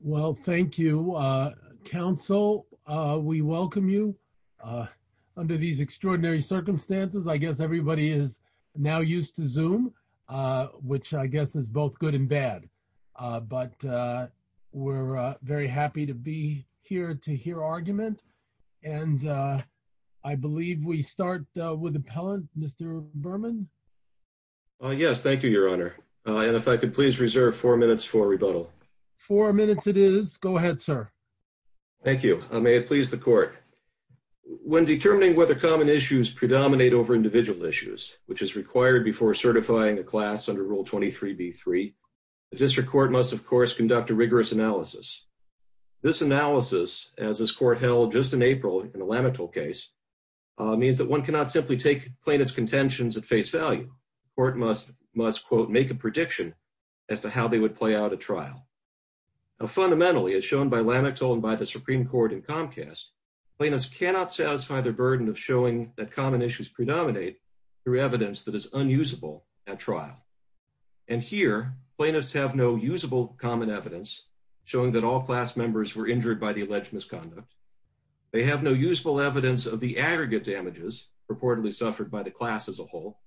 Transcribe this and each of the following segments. Well, thank you, Council. We welcome you under these extraordinary circumstances. I guess everybody is now used to Zoom, which I guess is both good and bad. But we're very happy to be here to hear argument. And I believe we start with appellant, Mr. Berman. Yes, thank you, Your Honor. And if I could please reserve four minutes for rebuttal. Four minutes it is. Go ahead, sir. Thank you. May it please the Court. When determining whether common issues predominate over individual issues, which is required before certifying a class under Rule 23b-3, the District Court must, of course, conduct a rigorous analysis. This analysis, as this Court held just in April in the Lamettle case, means that one cannot simply take plaintiff's contentions at face value. The Court must, quote, make a prediction as to how they would play out a trial. Now, fundamentally, as shown by Lamettle and by the Supreme Court in Comcast, plaintiffs cannot satisfy their burden of showing that common issues predominate through evidence that is unusable at trial. And here, plaintiffs have no usable common evidence showing that all class members were injured by the alleged misconduct. They have no usable evidence of the aggregate damages reportedly suffered by the class as a whole.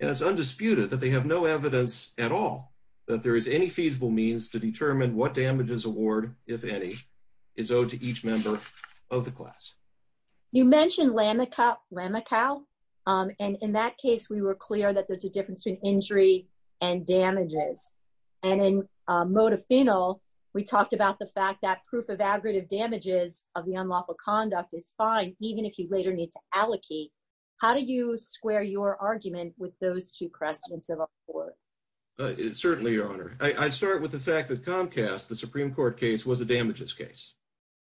And it's undisputed that they have no feasible means to determine what damages award, if any, is owed to each member of the class. You mentioned Lamical. And in that case, we were clear that there's a difference between injury and damages. And in Modafinil, we talked about the fact that proof of aggregate damages of the unlawful conduct is fine, even if you later need to allocate. How do you square your argument with those two crests in civil court? Certainly, Your Honor. I start with the fact that Comcast, the Supreme Court case, was a damages case.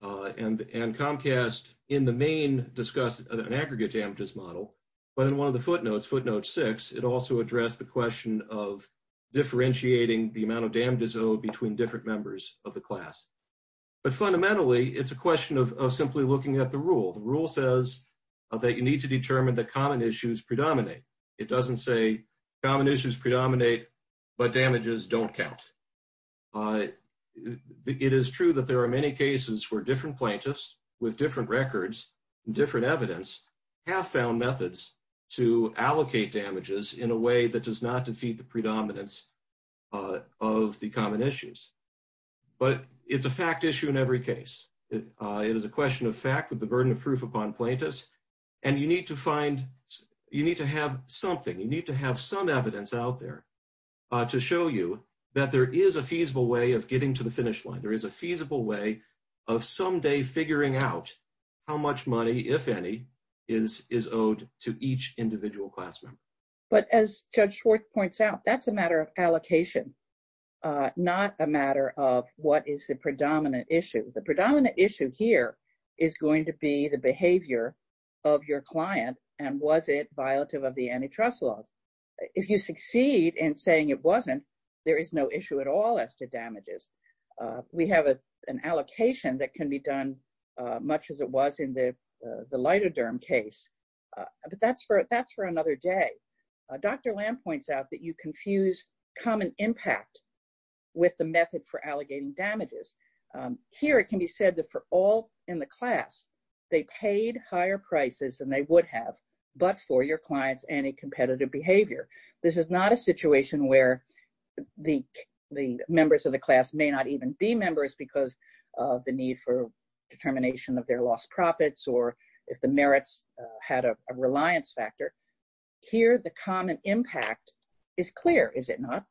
And Comcast, in the main, discussed an aggregate damages model. But in one of the footnotes, footnote six, it also addressed the question of differentiating the amount of damages owed between different members of the class. But fundamentally, it's a question of simply looking at the rule. The rule says that you need to determine that common issues predominate, but damages don't count. It is true that there are many cases where different plaintiffs with different records and different evidence have found methods to allocate damages in a way that does not defeat the predominance of the common issues. But it's a fact issue in every case. It is a question of fact with the burden of proof upon plaintiffs. And you need to find, you need to have something, you need to have some evidence out there to show you that there is a feasible way of getting to the finish line. There is a feasible way of someday figuring out how much money, if any, is owed to each individual class member. But as Judge Schwartz points out, that's a matter of allocation, not a matter of what is the predominant issue. The predominant issue here is going to be the of your client, and was it violative of the antitrust laws? If you succeed in saying it wasn't, there is no issue at all as to damages. We have an allocation that can be done much as it was in the lidoderm case. But that's for another day. Dr. Lam points out that you confuse common impact with the method for allegating damages. Here, it can be said that for all in the class, they paid higher prices than they would have, but for your client's anti-competitive behavior. This is not a situation where the members of the class may not even be members because of the need for determination of their lost profits or if the merits had a reliance factor. Here, the common impact is clear, is it not?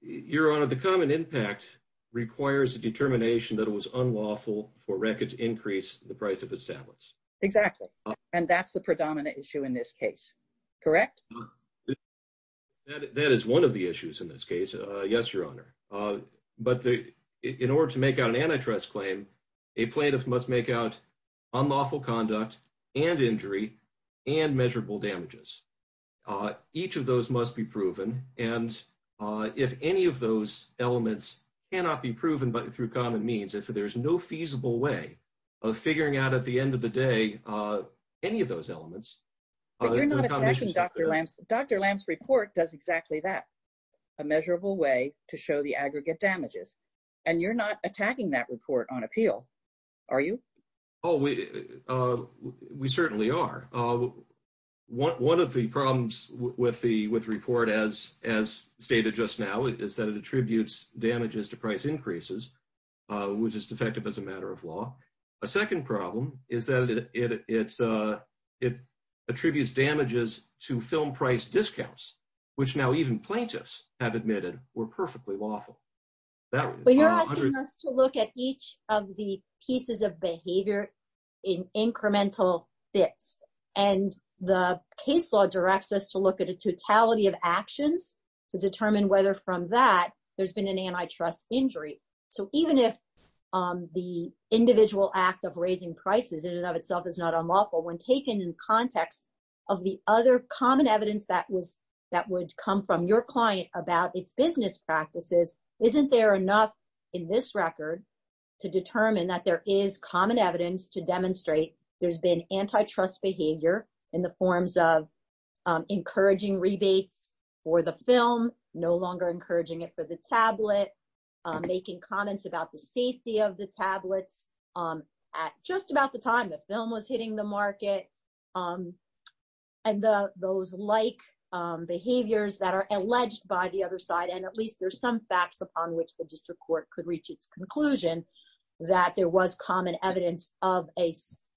Your Honor, the common impact requires a determination that it was unlawful for records to increase the price of its tablets. Exactly. And that's the predominant issue in this case, correct? That is one of the issues in this case. Yes, Your Honor. But in order to make out an antitrust claim, a plaintiff must make out unlawful conduct and injury and measurable damages. Each of those must be proven. And if any of those elements cannot be proven through common means, if there's no feasible way of figuring out at the end of the day any of those elements... But you're not attacking Dr. Lam's... Dr. Lam's report does exactly that, a measurable way to show the aggregate damages. And you're not attacking that report on appeal, are you? Oh, we certainly are. One of the problems with the report, as stated just now, is that it attributes damages to price increases, which is defective as a matter of law. A second problem is that it attributes damages to film price discounts, which now even plaintiffs have to look at the pieces of behavior in incremental bits. And the case law directs us to look at a totality of actions to determine whether from that there's been an antitrust injury. So even if the individual act of raising prices in and of itself is not unlawful, when taken in context of the other common evidence that would come from your client about its business practices, isn't there enough in this record to determine that there is common evidence to demonstrate there's been antitrust behavior in the forms of encouraging rebates for the film, no longer encouraging it for the tablet, making comments about the safety of the tablets at just about the time the film was hitting the market, and those like behaviors that are alleged by the other side, and at least there's some facts upon which the district court could reach its conclusion that there was common evidence of a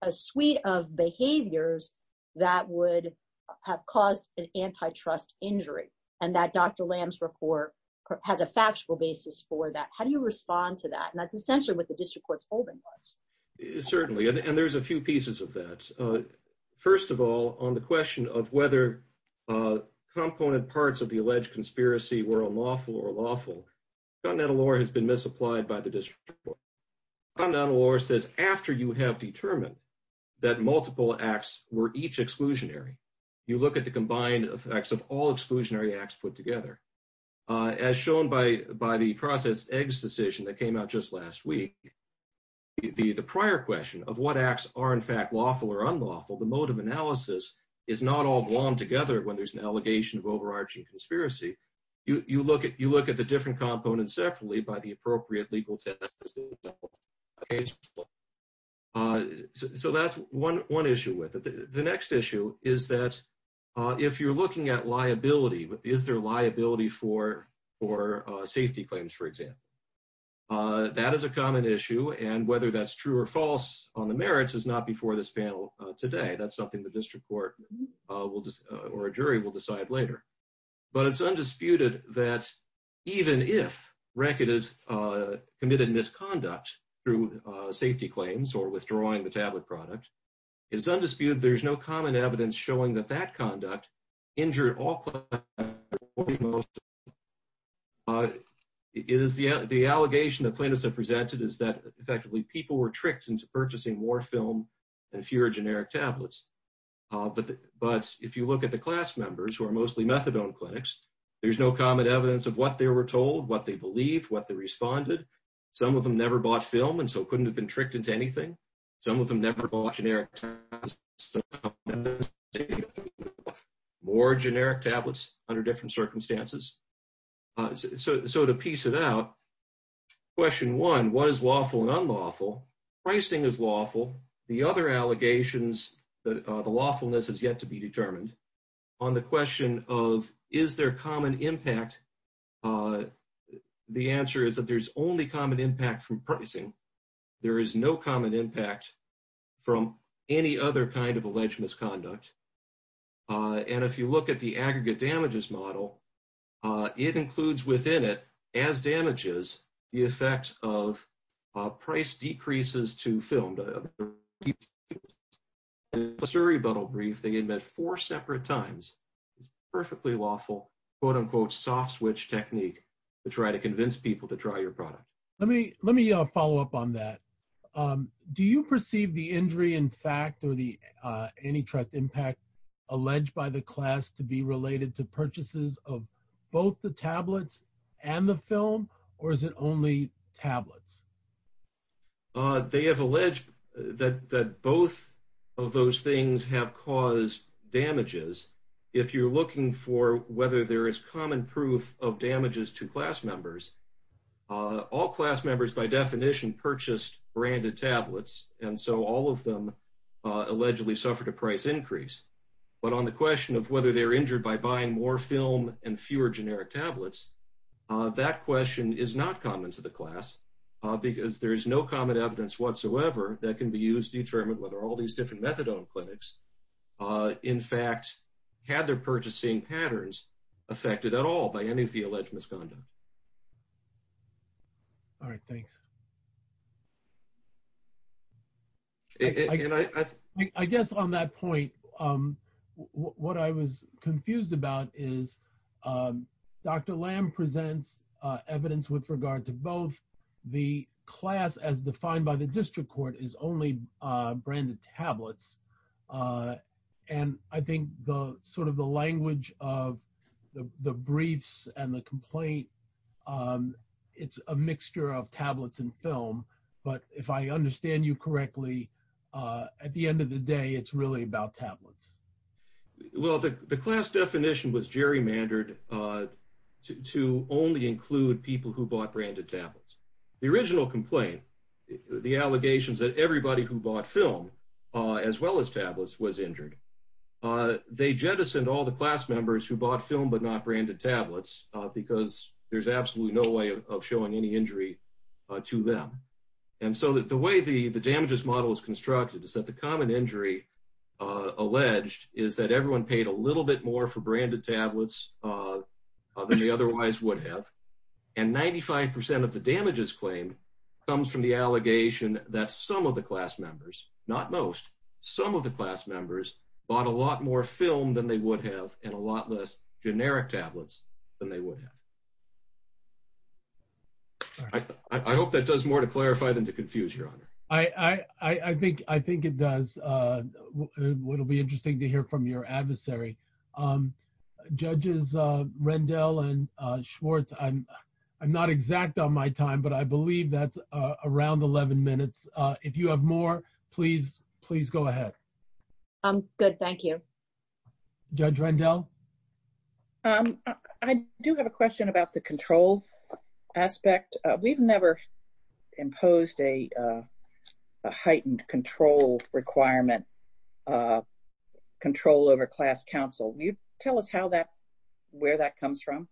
suite of behaviors that would have caused an antitrust injury, and that Dr. Lamb's report has a factual basis for that. How do you respond to that? And that's essentially what the district court's holding was. Certainly, and there's a few pieces of that. First of all, on the question of whether component parts of the alleged conspiracy were unlawful or lawful, continental law has been misapplied by the district court. Continental law says after you have determined that multiple acts were each exclusionary, you look at the combined effects of all exclusionary acts put together. As shown by the processed eggs decision that came out last week, the prior question of what acts are in fact lawful or unlawful, the mode of analysis is not all glommed together when there's an allegation of overarching conspiracy. You look at the different components separately by the appropriate legal test. So that's one issue with it. The next issue is that if you're looking at liability, is there liability for safety claims, for example? That is a common issue, and whether that's true or false on the merits is not before this panel today. That's something the district court or a jury will decide later. But it's undisputed that even if RECCIT has committed misconduct through safety claims or withdrawing the tablet product, it's undisputed there's no evidence showing that that conduct injured all... The allegation the plaintiffs have presented is that effectively people were tricked into purchasing more film and fewer generic tablets. But if you look at the class members who are mostly methadone clinics, there's no common evidence of what they were told, what they believed, what they responded. Some of them never bought film and so couldn't have been tricked into anything. Some of them never bought generic tablets. More generic tablets under different circumstances. So to piece it out, question one, what is lawful and unlawful? Pricing is lawful. The other allegations, the lawfulness has yet to be determined. On the question of is there common impact, the answer is that there's only common impact from pricing. There is no common impact from any other kind of alleged misconduct. And if you look at the aggregate damages model, it includes within it, as damages, the effect of price decreases to film. In the Surrey-Buttle brief, they admit four separate times it's perfectly lawful, quote-unquote soft switch technique to try to convince people to try your product. Let me follow up on that. Do you perceive the injury in fact or the antitrust impact alleged by the class to be related to purchases of both the tablets and the film, or is it only tablets? They have alleged that both of those things have caused damages. If you're looking for whether there is common proof of damages to class members, all class members by definition purchased branded tablets, and so all of them allegedly suffered a price increase. But on the question of whether they're injured by buying more film and fewer generic tablets, that question is not common to the class because there's no common evidence whatsoever that can be used to determine whether all these different methadone clinics in fact had their purchasing patterns affected at all by any of the alleged misconduct. All right, thanks. I guess on that point, what I was confused about is Dr. Lamb presents evidence with regard to both the class as defined by the district court is only branded tablets. And I think the sort of the language of the briefs and the complaint, it's a mixture of tablets and film. But if I understand you correctly, at the end of the day, it's really about tablets. Well, the class definition was gerrymandered to only include people who bought branded tablets. The original complaint, the allegations that everybody who bought film as well as tablets was injured. They jettisoned all the class members who bought film but not branded tablets because there's absolutely no way of showing any injury to them. And so the way the damages model is constructed is that the common injury alleged is that everyone paid a little bit more for branded tablets than they otherwise would have. And 95% of the damages claim comes from the allegation that some of the class members, not most, some of the class members bought a lot more film than they would have and a lot less generic tablets than they would have. I hope that does more to clarify than to confuse, Your Honor. I think it does. It'll be interesting to hear from your adversary. Judges Rendell and Schwartz, I'm not exact on my time, but I believe that's around 11 minutes. If you have more, please go ahead. Good, thank you. Judge Rendell? I do have a question about the control aspect. We've never imposed a heightened control requirement, control over class counsel. Can you tell us where that comes from?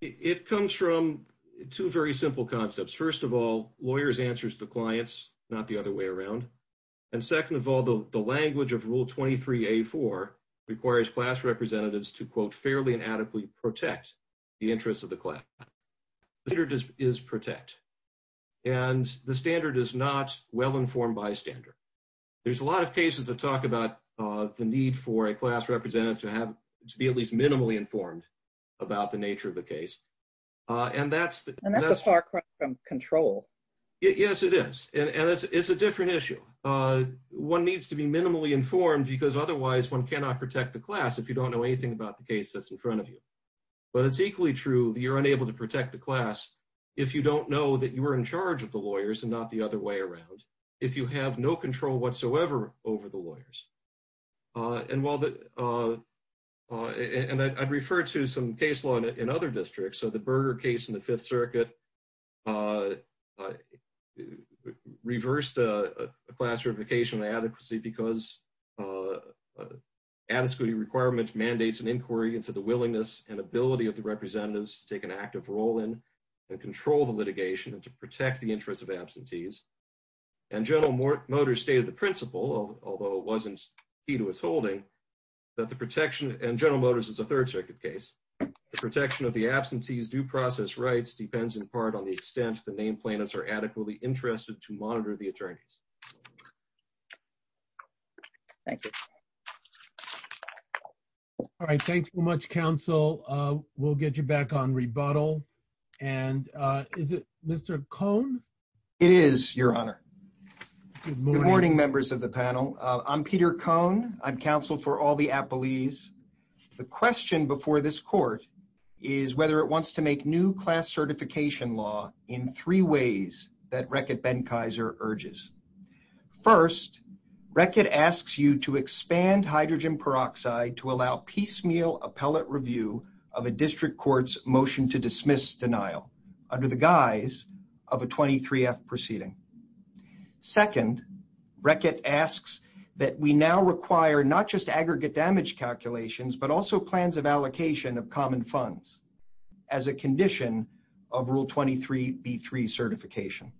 It comes from two very simple concepts. First of all, lawyers answers to clients, not the other way around. And second of all, the language of Rule 23A4 requires class representatives to, quote, fairly and adequately protect the interests of the class. The standard is protect. And the standard is not well-informed bystander. There's a lot of cases that talk about the need for a class representative to be at least minimally informed about the nature of the case. And that's a far cry from control. Yes, it is. And it's a different issue. One needs to be minimally informed because otherwise, one cannot protect the class if you don't know anything about the case that's in front of you. But it's equally true that you're unable to protect the class if you don't know that you were in charge of the lawyers and not the other way around, if you have no control whatsoever over the lawyers. And I'd refer to some case law in other districts. So the Berger case in the Fifth Circuit reversed a class certification of adequacy because adequacy requirements mandates an inquiry into the willingness and ability of the representatives to take an active role in and control the litigation and to protect the interests of absentees. And General Motors stated the principle, although it wasn't key to its holding, that the protection—and General Motors is a Third Circuit case—the protection of the absentee's due process rights depends in part on the extent the name plaintiffs are adequately interested to monitor the attorneys. Thank you. All right. Thanks so much, counsel. We'll get you back on rebuttal. And is it Mr. Cohn? It is, Your Honor. Good morning, members of the panel. I'm Peter Cohn. I'm counsel for all the appellees. The question before this court is whether it wants to make new class certification law in three ways that Reckitt Benkiser urges. First, Reckitt asks you to expand hydrogen peroxide to allow piecemeal appellate review of a district court's motion to dismiss denial under the guise of a 23-F proceeding. Second, Reckitt asks that we now require not just aggregate damage calculations but also plans of allocation of common funds as a condition of Rule 23b-3 certification.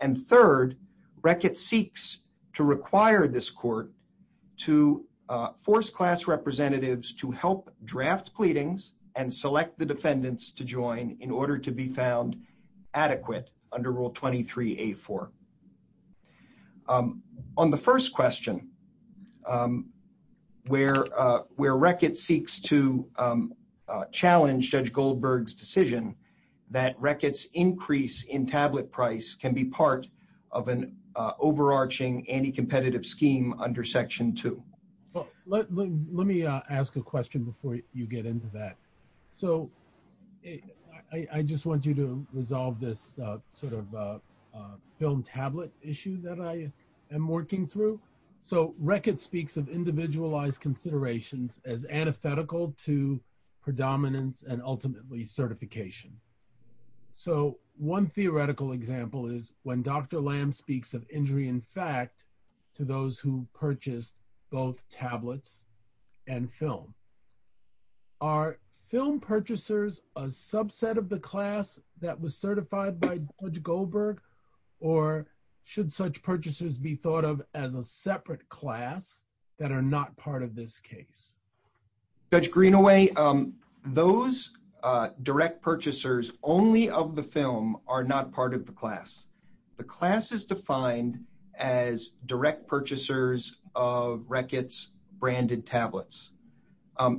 And third, Reckitt seeks to require this court to force class representatives to help draft pleadings and select the defendants to join in order to be found adequate under Rule 23a-4. On the first question, where Reckitt seeks to dismiss denial under Rule 23b-3, the court says that Reckitt's increase in tablet price can be part of an overarching anti-competitive scheme under Section 2. Let me ask a question before you get into that. So I just want you to resolve this sort of film tablet issue that I am working through. So Reckitt speaks of individualized considerations as antithetical to predominance and ultimately certification. So one theoretical example is when Dr. Lamb speaks of injury in fact to those who purchased both tablets and film. Are film purchasers a subset of the class that was certified by Judge Goldberg or should such purchasers be thought of as a separate class that are not part of this case? Judge Greenaway, those direct purchasers only of the film are not part of the class. The class is defined as direct purchasers of Reckitt's branded tablets.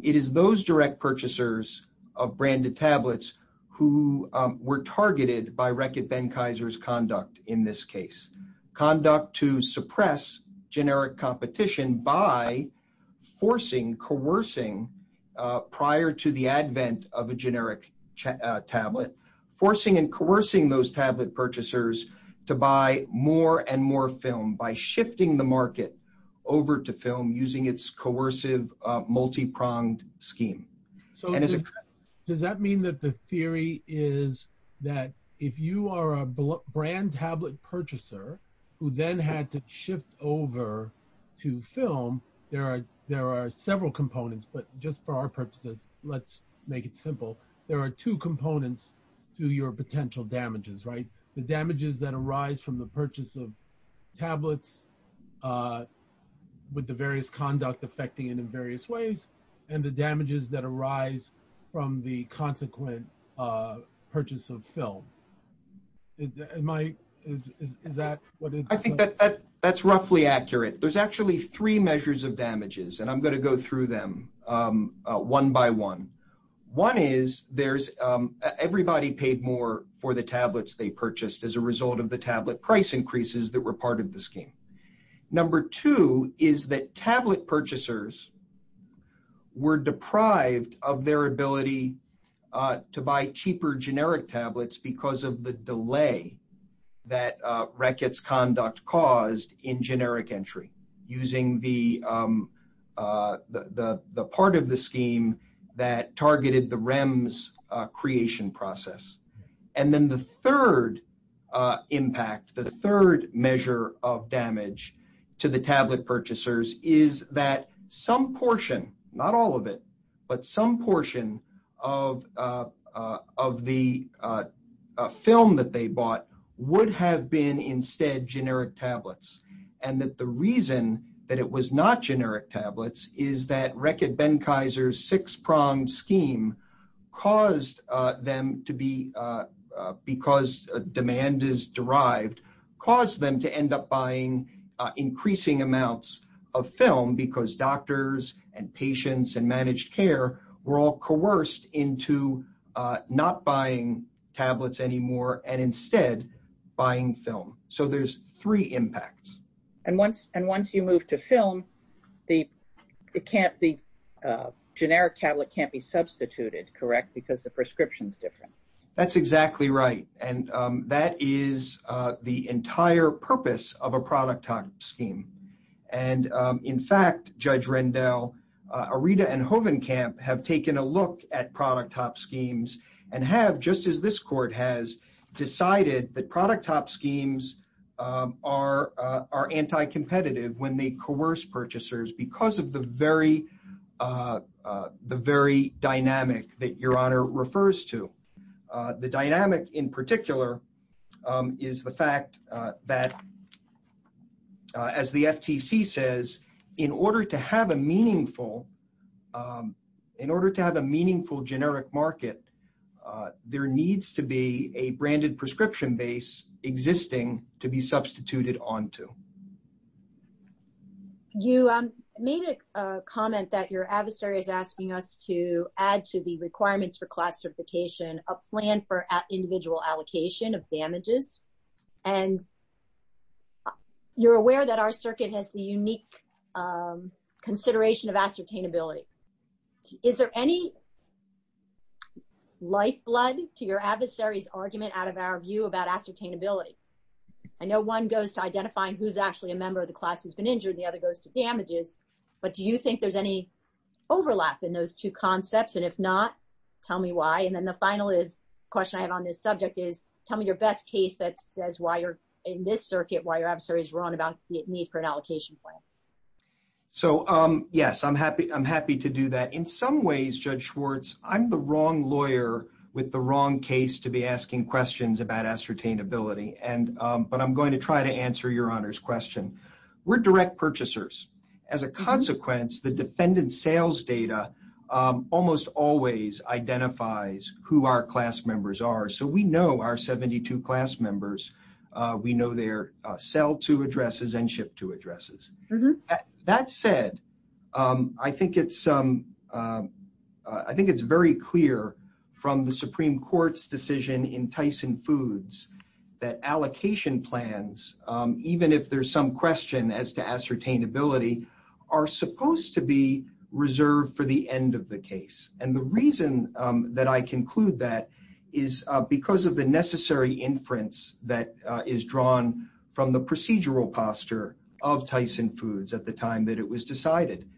It is those direct purchasers of branded tablets who were targeted by Reckitt Benkiser's conduct in this case. Conduct to suppress generic competition by forcing, coercing prior to the advent of a generic tablet. Forcing and coercing those tablet purchasers to buy more and more film by shifting the market over to film using its coercive multi-pronged scheme. So does that mean that the theory is that if you are a brand tablet purchaser who then had to shift over to film, there are several components. But just for our purposes, let's make it simple. There are two components to your potential damages, right? The damages that arise from the purchase of tablets with the various conduct affecting it in various ways and the damages that arise from the consequent purchase of film. Am I, is that what? I think that that's roughly accurate. There's actually three measures of damages and I'm going to go through them one by one. One is there's everybody paid more for the tablets they purchased as a result of the tablet price increases that were part of the scheme. Number two is that tablet purchasers were deprived of their ability to buy cheaper generic tablets because of the delay that Rackett's conduct caused in generic entry using the part of the scheme that targeted the REMS creation process. And then the third impact, the third measure of damage to the tablet purchasers is that some portion, not all of it, but some portion of the film that they bought would have been instead generic tablets. And that the reason that it was not generic tablets is that Rackett Benkiser's six prong scheme caused them to be, because demand is derived, caused them to end up buying increasing amounts of film because doctors and patients and managed care were all coerced into not buying tablets anymore and instead buying film. So there's three impacts. And once you move to film, the generic tablet can't be substituted, correct? Because the prescription's different. That's exactly right. And that is the entire purpose of a product top scheme. And in fact, Judge Rendell, Arita and Hovenkamp have taken a look at product top schemes and have, just as this court has, decided that product top schemes are anti-competitive when they coerce purchasers because of the very dynamic that Your Honor refers to. The dynamic in particular is the fact that, as the FTC says, in order to have a meaningful, in order to have a meaningful generic market, there needs to be a branded prescription base existing to be substituted onto. You made a comment that your adversary is asking us to add to the requirements for class certification a plan for individual allocation of damages. And you're aware that our circuit has the unique consideration of ascertainability. Is there any lifeblood to your adversary's argument out of our view about ascertainability? I know one goes to identifying who's actually a member of the class who's been injured. The other goes to damages. But do you think there's any overlap in those two concepts? And if not, tell me why. And then the final question I have on this subject is, tell me your best case that says why you're, in this circuit, why your adversary is wrong about the need for an allocation plan. So yes, I'm happy to do that. In some ways, Judge Schwartz, I'm the wrong lawyer with the wrong case to be asking questions about ascertainability. But I'm going to try to answer your honor's question. We're direct purchasers. As a consequence, the defendant's sales data almost always identifies who our class members are. So we know our 72 class members. We know their addresses. That said, I think it's very clear from the Supreme Court's decision in Tyson Foods that allocation plans, even if there's some question as to ascertainability, are supposed to be reserved for the end of the case. And the reason that I conclude that is because of the necessary inference that is drawn from the procedural posture of Tyson Foods at the time that it was decided.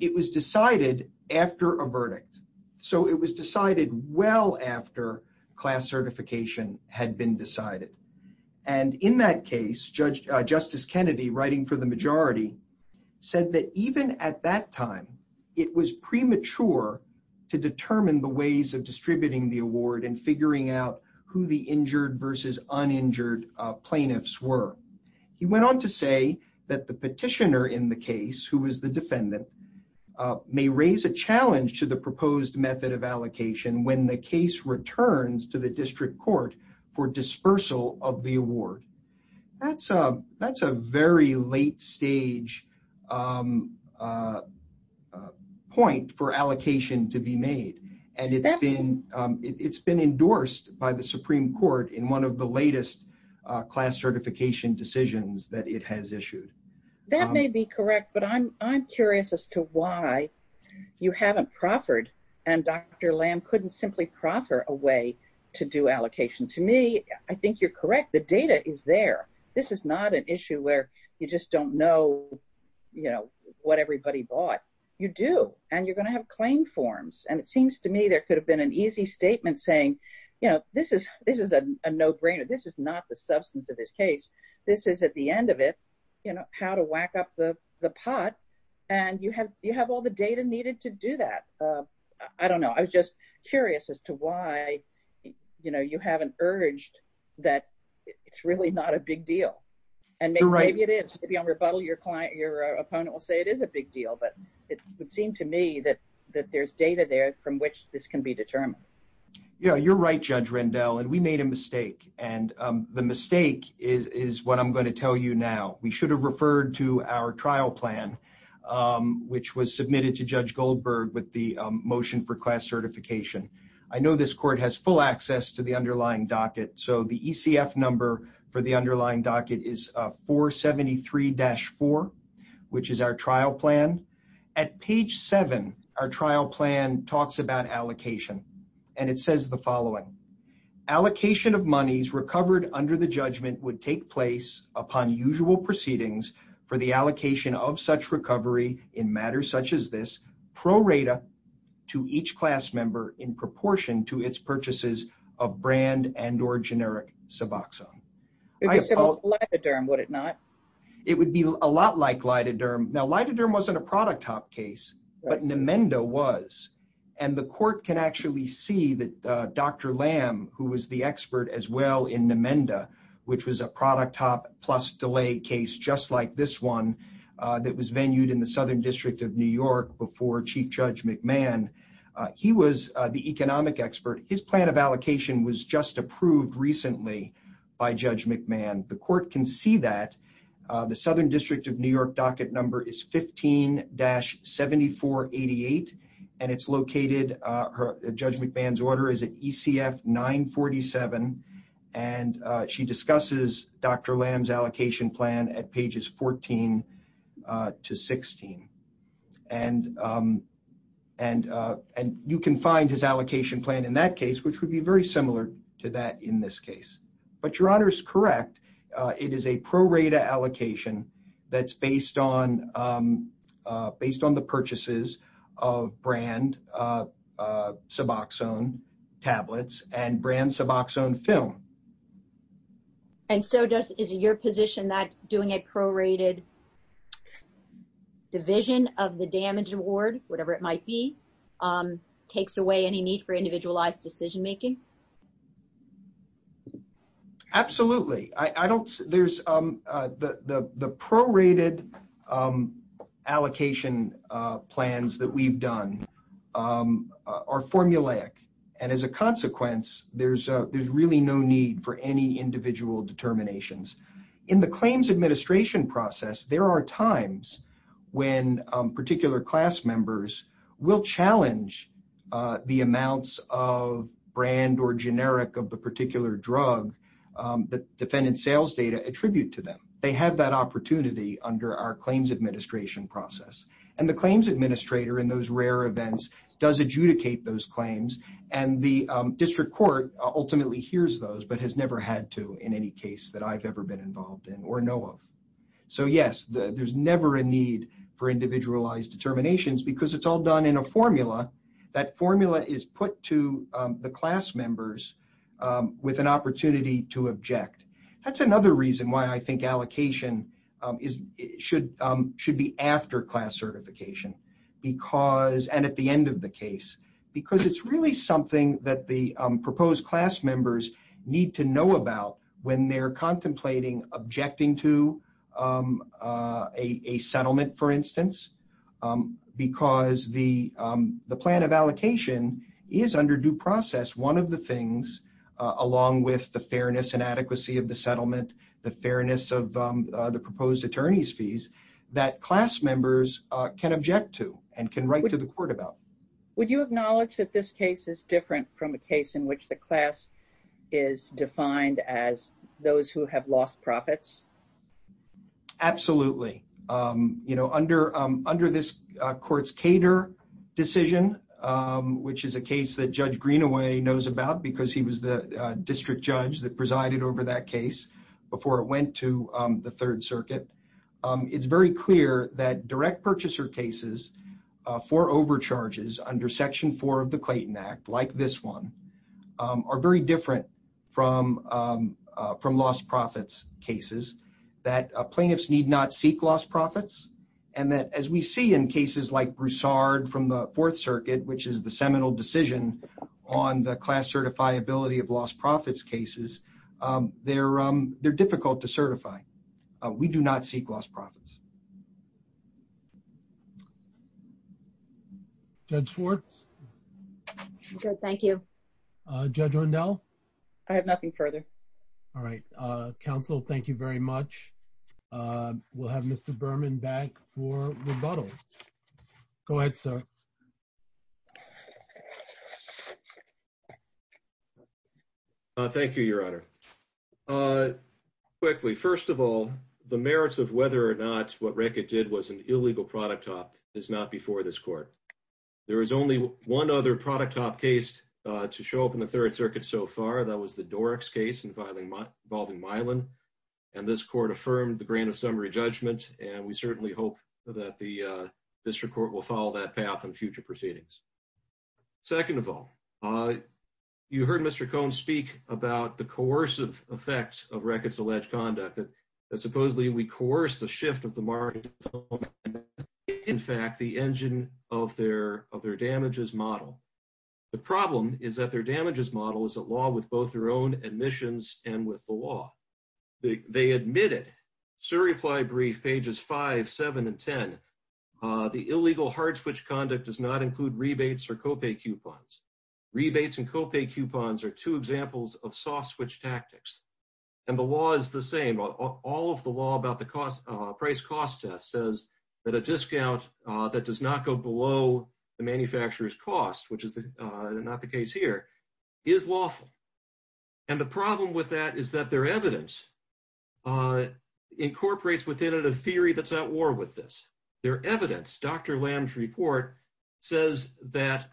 It was decided after a verdict. So it was decided well after class certification had been decided. And in that case, Justice Kennedy, writing for the majority, said that even at that time, it was premature to determine the ways of distributing the award and figuring out who the injured versus uninjured plaintiffs were. He went on to say that the petitioner in the case, who was the defendant, may raise a challenge to the proposed method of allocation when the case returns to the district court for dispersal of the award. That's a very late stage point for allocation to be made. And it's been endorsed by the Supreme Court in one of the latest class certification decisions that it has issued. That may be correct. But I'm curious as to why you haven't proffered and Dr. Lamb couldn't simply proffer a way to do allocation. To me, I think you're correct. The data is there. This is not an issue where you just don't know what everybody bought. You do, and you're going to have claim forms. And it seems to me there could have been an easy statement saying, this is a no-brainer. This is not the substance of this case. This is at the end of it, how to whack up the pot. And you have all the data needed to do that. I don't know. I was just curious as to why you haven't urged that it's really not a big deal. And maybe it is. Maybe on rebuttal, your opponent will say it is a big deal. But it would seem to me that there's data there from which this can be determined. Yeah, you're right, Judge Rendell. And we made a mistake. And the mistake is what I'm going to Goldberg with the motion for class certification. I know this court has full access to the underlying docket. So the ECF number for the underlying docket is 473-4, which is our trial plan. At page 7, our trial plan talks about allocation. And it says the following. Allocation of monies recovered under the judgment would take place upon usual proceedings for the allocation of such recovery in matters such as this, prorated to each class member in proportion to its purchases of brand and or generic Suboxone. It would be a lot like lidoderm. Now, lidoderm wasn't a product hop case, but Nemenda was. And the court can actually see that Dr. Lamb, who was the expert as well in Nemenda, which was a product hop plus delay case just like this one, that was venued in the Southern District of New York before Chief Judge McMahon. He was the economic expert. His plan of allocation was just approved recently by Judge McMahon. The court can see that. The Southern District of New York docket number is 15-7488. And it's located, Judge McMahon's order is at ECF 947. And she discusses Dr. Lamb's allocation plan at pages 14 to 16. And you can find his allocation plan in that case, which would be very similar to that in this case. But Your Honor is correct. It is a prorated allocation that's based on the purchases of brand Suboxone tablets and brand Suboxone film. And so does, is your position that doing a prorated division of the damage award, whatever it might be, takes away any need for individualized decision making? Absolutely. I don't, there's, the prorated allocation plans that we've done are formulaic. And as a consequence, there's, there's really no need for any individual determinations. In the claims administration process, there are times when particular class members will challenge the amounts of brand or generic of the particular drug that defendant sales data attribute to them. They have that opportunity under our claims administration process. And the claims administrator in those rare events does adjudicate those claims. And the district court ultimately hears those, but has never had to in any case that I've ever been involved in or know of. So yes, there's never a need for individualized determinations because it's all done in a formula. That formula is put to the class members with an opportunity to object. That's another reason why I think allocation is, should, should be after class certification, because, and at the end of the case, because it's really something that the proposed class members need to know about when they're contemplating objecting to a settlement, for instance, because the, the plan of allocation is under due process. One of the things, along with the settlement, the fairness of the proposed attorney's fees, that class members can object to and can write to the court about. Would you acknowledge that this case is different from a case in which the class is defined as those who have lost profits? Absolutely. You know, under, under this court's cater decision, which is a case that Judge Greenaway knows about because he was the before it went to the Third Circuit, it's very clear that direct purchaser cases for overcharges under Section 4 of the Clayton Act, like this one, are very different from, from lost profits cases, that plaintiffs need not seek lost profits, and that as we see in cases like Broussard from the Fourth Circuit, which is the seminal decision on the class certifiability of lost profits cases, they're, they're difficult to certify. We do not seek lost profits. Judge Schwartz? Good, thank you. Judge Rundell? I have nothing further. All right. Counsel, thank you very much. We'll have Mr. Berman back for rebuttal. Go ahead, sir. Thank you, Your Honor. Quickly, first of all, the merits of whether or not what Reckitt did was an illegal product top is not before this court. There is only one other product top case to show up in the Third Circuit so far. That was the Dorix case involving, involving Mylan, and this court affirmed the grant of summary judgment, and we certainly hope that the district court will follow that path in future proceedings. Second of all, you heard Mr. Cohn speak about the coercive effects of Reckitt's alleged conduct, that supposedly we coerce the shift of the market, in fact, the engine of their, of their damages model. The problem is that their damages model is a law with both their own admissions and with the law. They admitted, sur repli brief, pages 5, 7, and 10, the illegal hard switch conduct does not and co-pay coupons are two examples of soft switch tactics. And the law is the same. All of the law about the cost, price cost test says that a discount that does not go below the manufacturer's cost, which is not the case here, is lawful. And the problem with that is that their evidence incorporates within it a theory that's at war with this. Their evidence, Dr. Lam's report, says that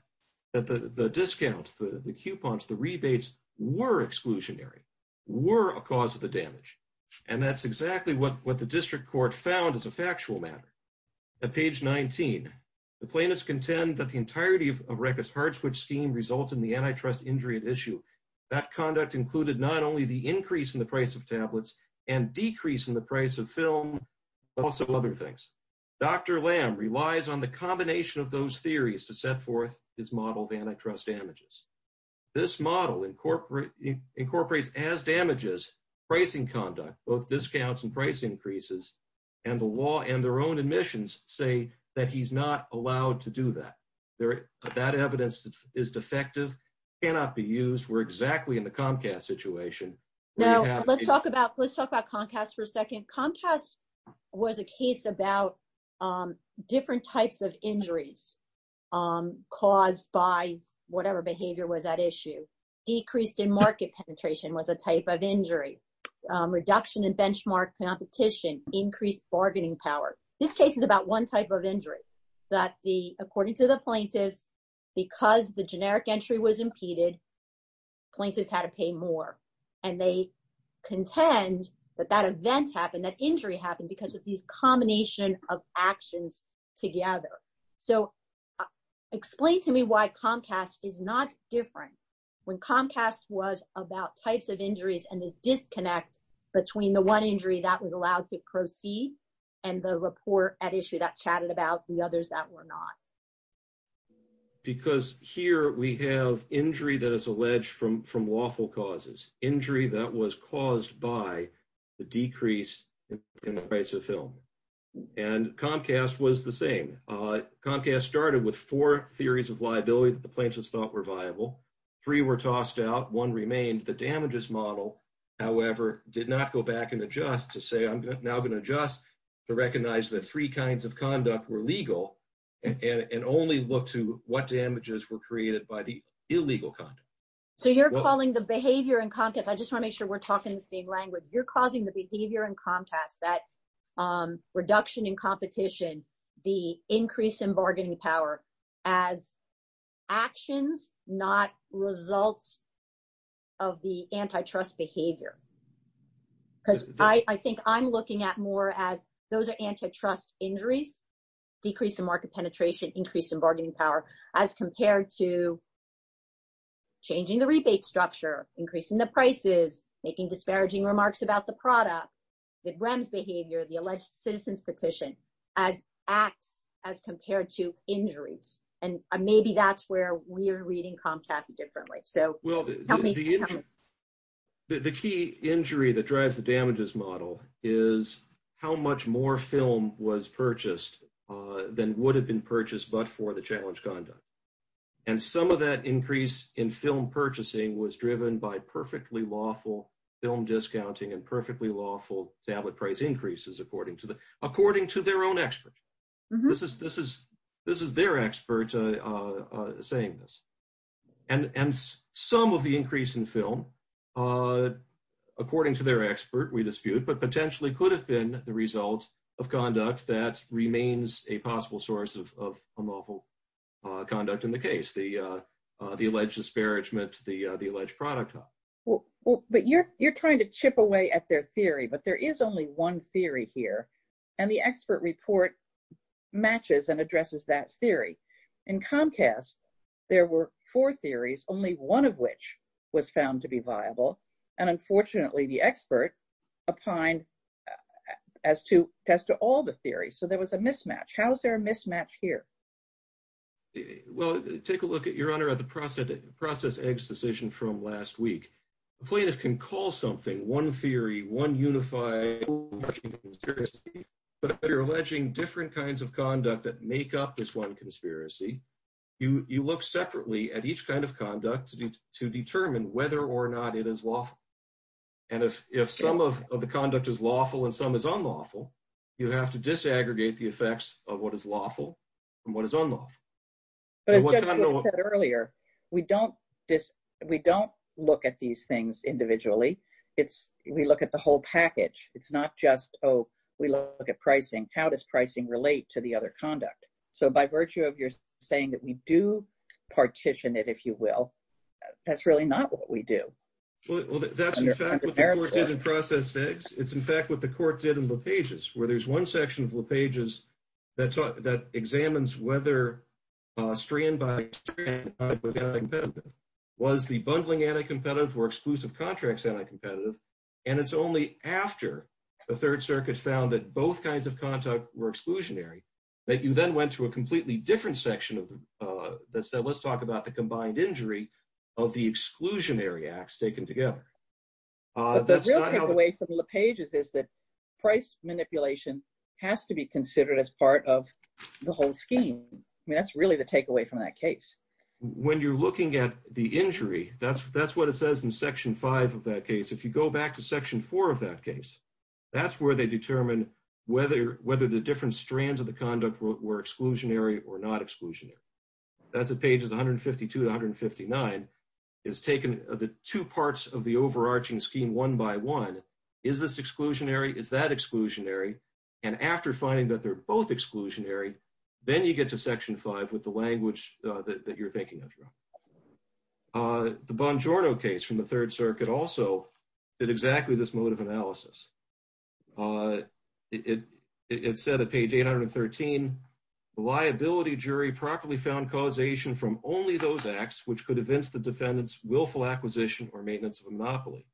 the discounts, the coupons, the rebates were exclusionary, were a cause of the damage. And that's exactly what the district court found as a factual matter. At page 19, the plaintiffs contend that the entirety of Reckitt's hard switch scheme resulted in the antitrust injury at issue. That conduct included not only the increase in the price of tablets and decrease in the price of film, but also other things. Dr. Lam relies on the combination of those theories to set forth his model of antitrust damages. This model incorporates as damages, pricing conduct, both discounts and price increases, and the law and their own admissions say that he's not allowed to do that. That evidence is defective, cannot be used. We're exactly in the Comcast situation. Now, let's talk about Comcast for a second. Comcast was a case about different types of injuries caused by whatever behavior was at issue. Decreased in market penetration was a type of injury. Reduction in benchmark competition, increased bargaining power. This case is about one type of injury that, according to the plaintiffs, because the generic entry was contend that that event happened, that injury happened because of these combination of actions together. Explain to me why Comcast is not different when Comcast was about types of injuries and this disconnect between the one injury that was allowed to proceed and the report at issue that chatted about the others that were not. Because here we have injury that is alleged from lawful causes. Injury that was caused by the decrease in the price of film. And Comcast was the same. Comcast started with four theories of liability that the plaintiffs thought were viable. Three were tossed out. One remained. The damages model, however, did not go back and adjust to say, I'm now going to adjust to recognize that three kinds of conduct were legal and only look to what damages were created by the illegal conduct. So you're calling the behavior in Comcast, I just want to make sure we're talking the same language, you're causing the behavior in Comcast, that reduction in competition, the increase in bargaining power as actions, not results of the antitrust behavior. Because I think I'm looking at more as those are antitrust injuries, decrease in market penetration, increase in bargaining power as compared to changing the rebate structure, increasing the prices, making disparaging remarks about the product, the REMS behavior, the alleged citizen's petition as acts as compared to injuries. And maybe that's where we're reading Comcast differently. So help me. The key injury that drives the damages model is how much more film was purchased than would have been purchased but for the challenge conduct. And some of that increase in film purchasing was driven by perfectly lawful film discounting and perfectly lawful tablet price increases according to their own experts. This is their experts saying this. And some of the increase in film, according to their expert, we dispute, but potentially could have been the result of conduct that remains a possible source of lawful conduct in the case, the alleged disparagement, the alleged product. But you're trying to chip away at their theory, but there is only one theory here. And the expert report matches and addresses that theory. In Comcast, there were four theories, only one of which was found to be viable. And unfortunately, the expert opined as to test all the theories. So there was a mismatch. How is there a mismatch here? Well, take a look at your honor at the process eggs decision from last week. The plaintiff can call something one theory, one unified, but you're alleging different kinds of conduct that make up this one conspiracy. You look separately at each kind of conduct to determine whether or not it is lawful. And if some of the conduct is lawful and some is unlawful, you have to disaggregate the effects of what is lawful and what is unlawful. But as Judge Lewis said earlier, we don't look at these things individually. We look at the whole relate to the other conduct. So by virtue of your saying that we do partition it, if you will, that's really not what we do. Well, that's in fact what the court did in process eggs. It's in fact what the court did in the pages where there's one section of the pages that taught that examines whether a strand by was the bundling anti-competitive or exclusive contracts anti-competitive. And it's only after the third circuit found that both kinds of contact were exclusionary that you then went to a completely different section that said let's talk about the combined injury of the exclusionary acts taken together. But the real takeaway from the pages is that price manipulation has to be considered as part of the whole scheme. I mean that's really the takeaway from that case. When you're looking at the injury, that's what it says in section five of that case. If you go back to section four of that case, that's where they determine whether the different strands of the conduct were exclusionary or not exclusionary. That's the pages 152 to 159. It's taken the two parts of the overarching scheme one by one. Is this exclusionary? Is that exclusionary? And after finding that they're both exclusionary, then you get to section five with the language that you're thinking of. The Bongiorno case from the third circuit also did exactly this mode of analysis. It said at page 813, the liability jury properly found causation from only those acts which could evince the defendant's willful acquisition or maintenance of a monopoly.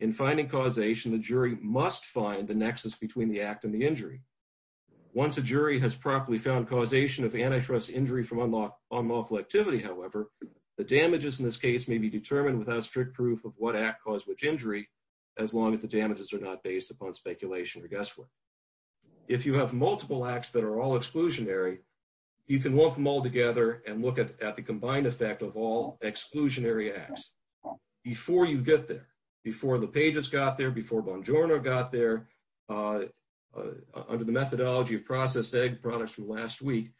In finding causation, the jury must find the nexus between the act and the injury. Once a jury has properly found causation of antitrust injury from unlawful activity, however, the damages in this case may be determined without strict proof of what act caused which injury as long as the damages are not based upon speculation or guesswork. If you have multiple acts that are all exclusionary, you can lump them all together and look at the combined effect of all exclusionary acts. Before you get there, before the pages got there, before Bongiorno got there, under the methodology of processed egg products from last week,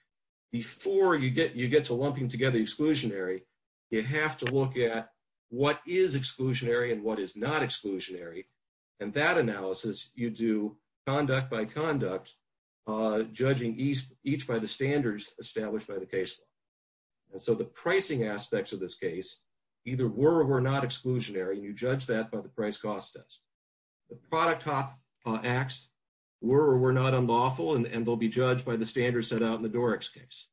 before you get to lumping together exclusionary, you have to look at what is exclusionary and what is not exclusionary. In that analysis, you do conduct by conduct, judging each by the standards established by the case law. So the pricing aspects of this case either were or were not exclusionary, and you judge that by the price-cost test. The product acts were or were not unlawful, and they'll be judged by the standards set out in the Doric's case.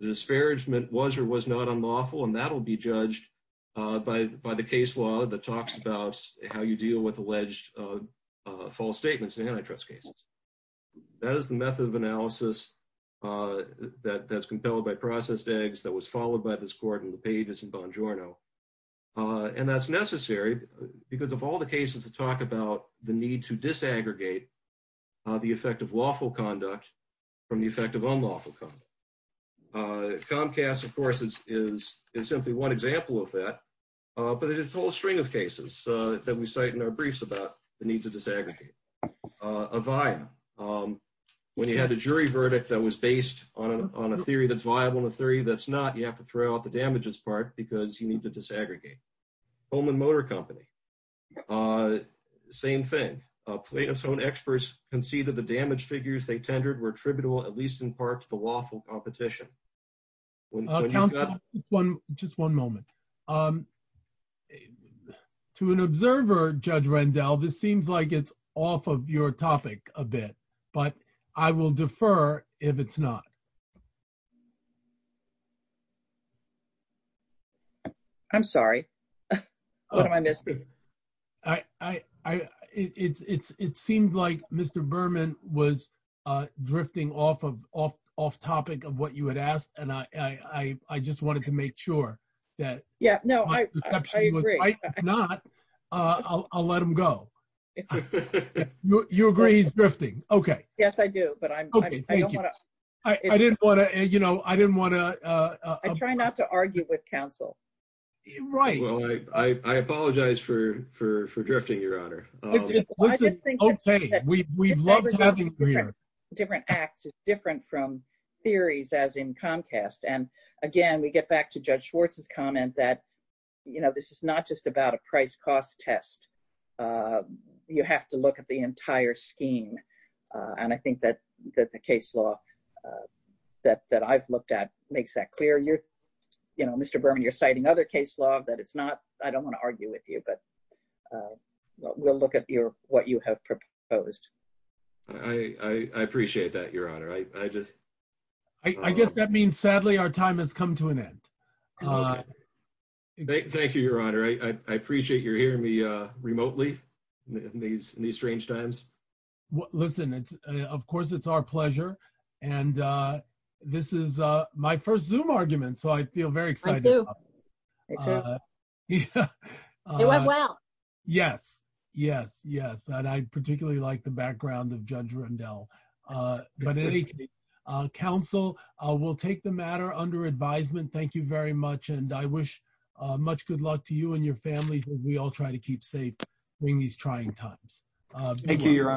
The disparagement was or was not unlawful, and that'll be judged by the case law that talks about how you deal with alleged false statements in antitrust cases. That is the method of analysis that's compelled by processed eggs that was followed by this court in the pages in Bongiorno. And that's necessary because of all the cases that talk about the need to disaggregate the effect of lawful conduct from the effect of unlawful conduct. Comcast, of course, is simply one example of that, but there's a whole string of cases that we cite in our briefs about the need to disaggregate. Avaya, when you had a jury verdict that was based on a theory that's viable and a theory that's not, you have to throw out the damages part because you need to disaggregate. Holman Motor Company, same thing. Plaintiffs' own experts conceded the damage figures they tendered were attributable, at least in part, to the lawful competition. Just one moment. To an observer, Judge Rendell, this seems like it's off of your topic a bit, but I will defer if it's not. I'm sorry. What am I missing? It seemed like Mr. Berman was drifting off topic of what you had asked, and I just wanted to make sure that my perception was right. If not, I'll let him go. You agree he's drifting? Yes, I do. I try not to argue with counsel. I just think that different acts are different from theories as in Comcast. Again, we get back to Judge Schwartz's comment that this is not just about a price-cost test. You have to look at the entire scheme, and I think that the case law that I've looked at makes that clear. Mr. Berman, you're citing other case law. I don't want to argue with you, but we'll look at what you have proposed. I appreciate that, Your Honor. I guess that means, sadly, our time has come to an end. Thank you, Your Honor. I appreciate you're hearing me remotely in these strange times. Listen, of course, it's our pleasure, and this is my first Zoom argument, so I feel very excited about it. It went well. Yes, yes, yes, and I particularly like the background of Judge Rendell. Counsel, we'll take the matter under advisement. Thank you very much, and I wish much good luck to you and your families as we all try to keep safe during these trying times. Thank you, Your Honor.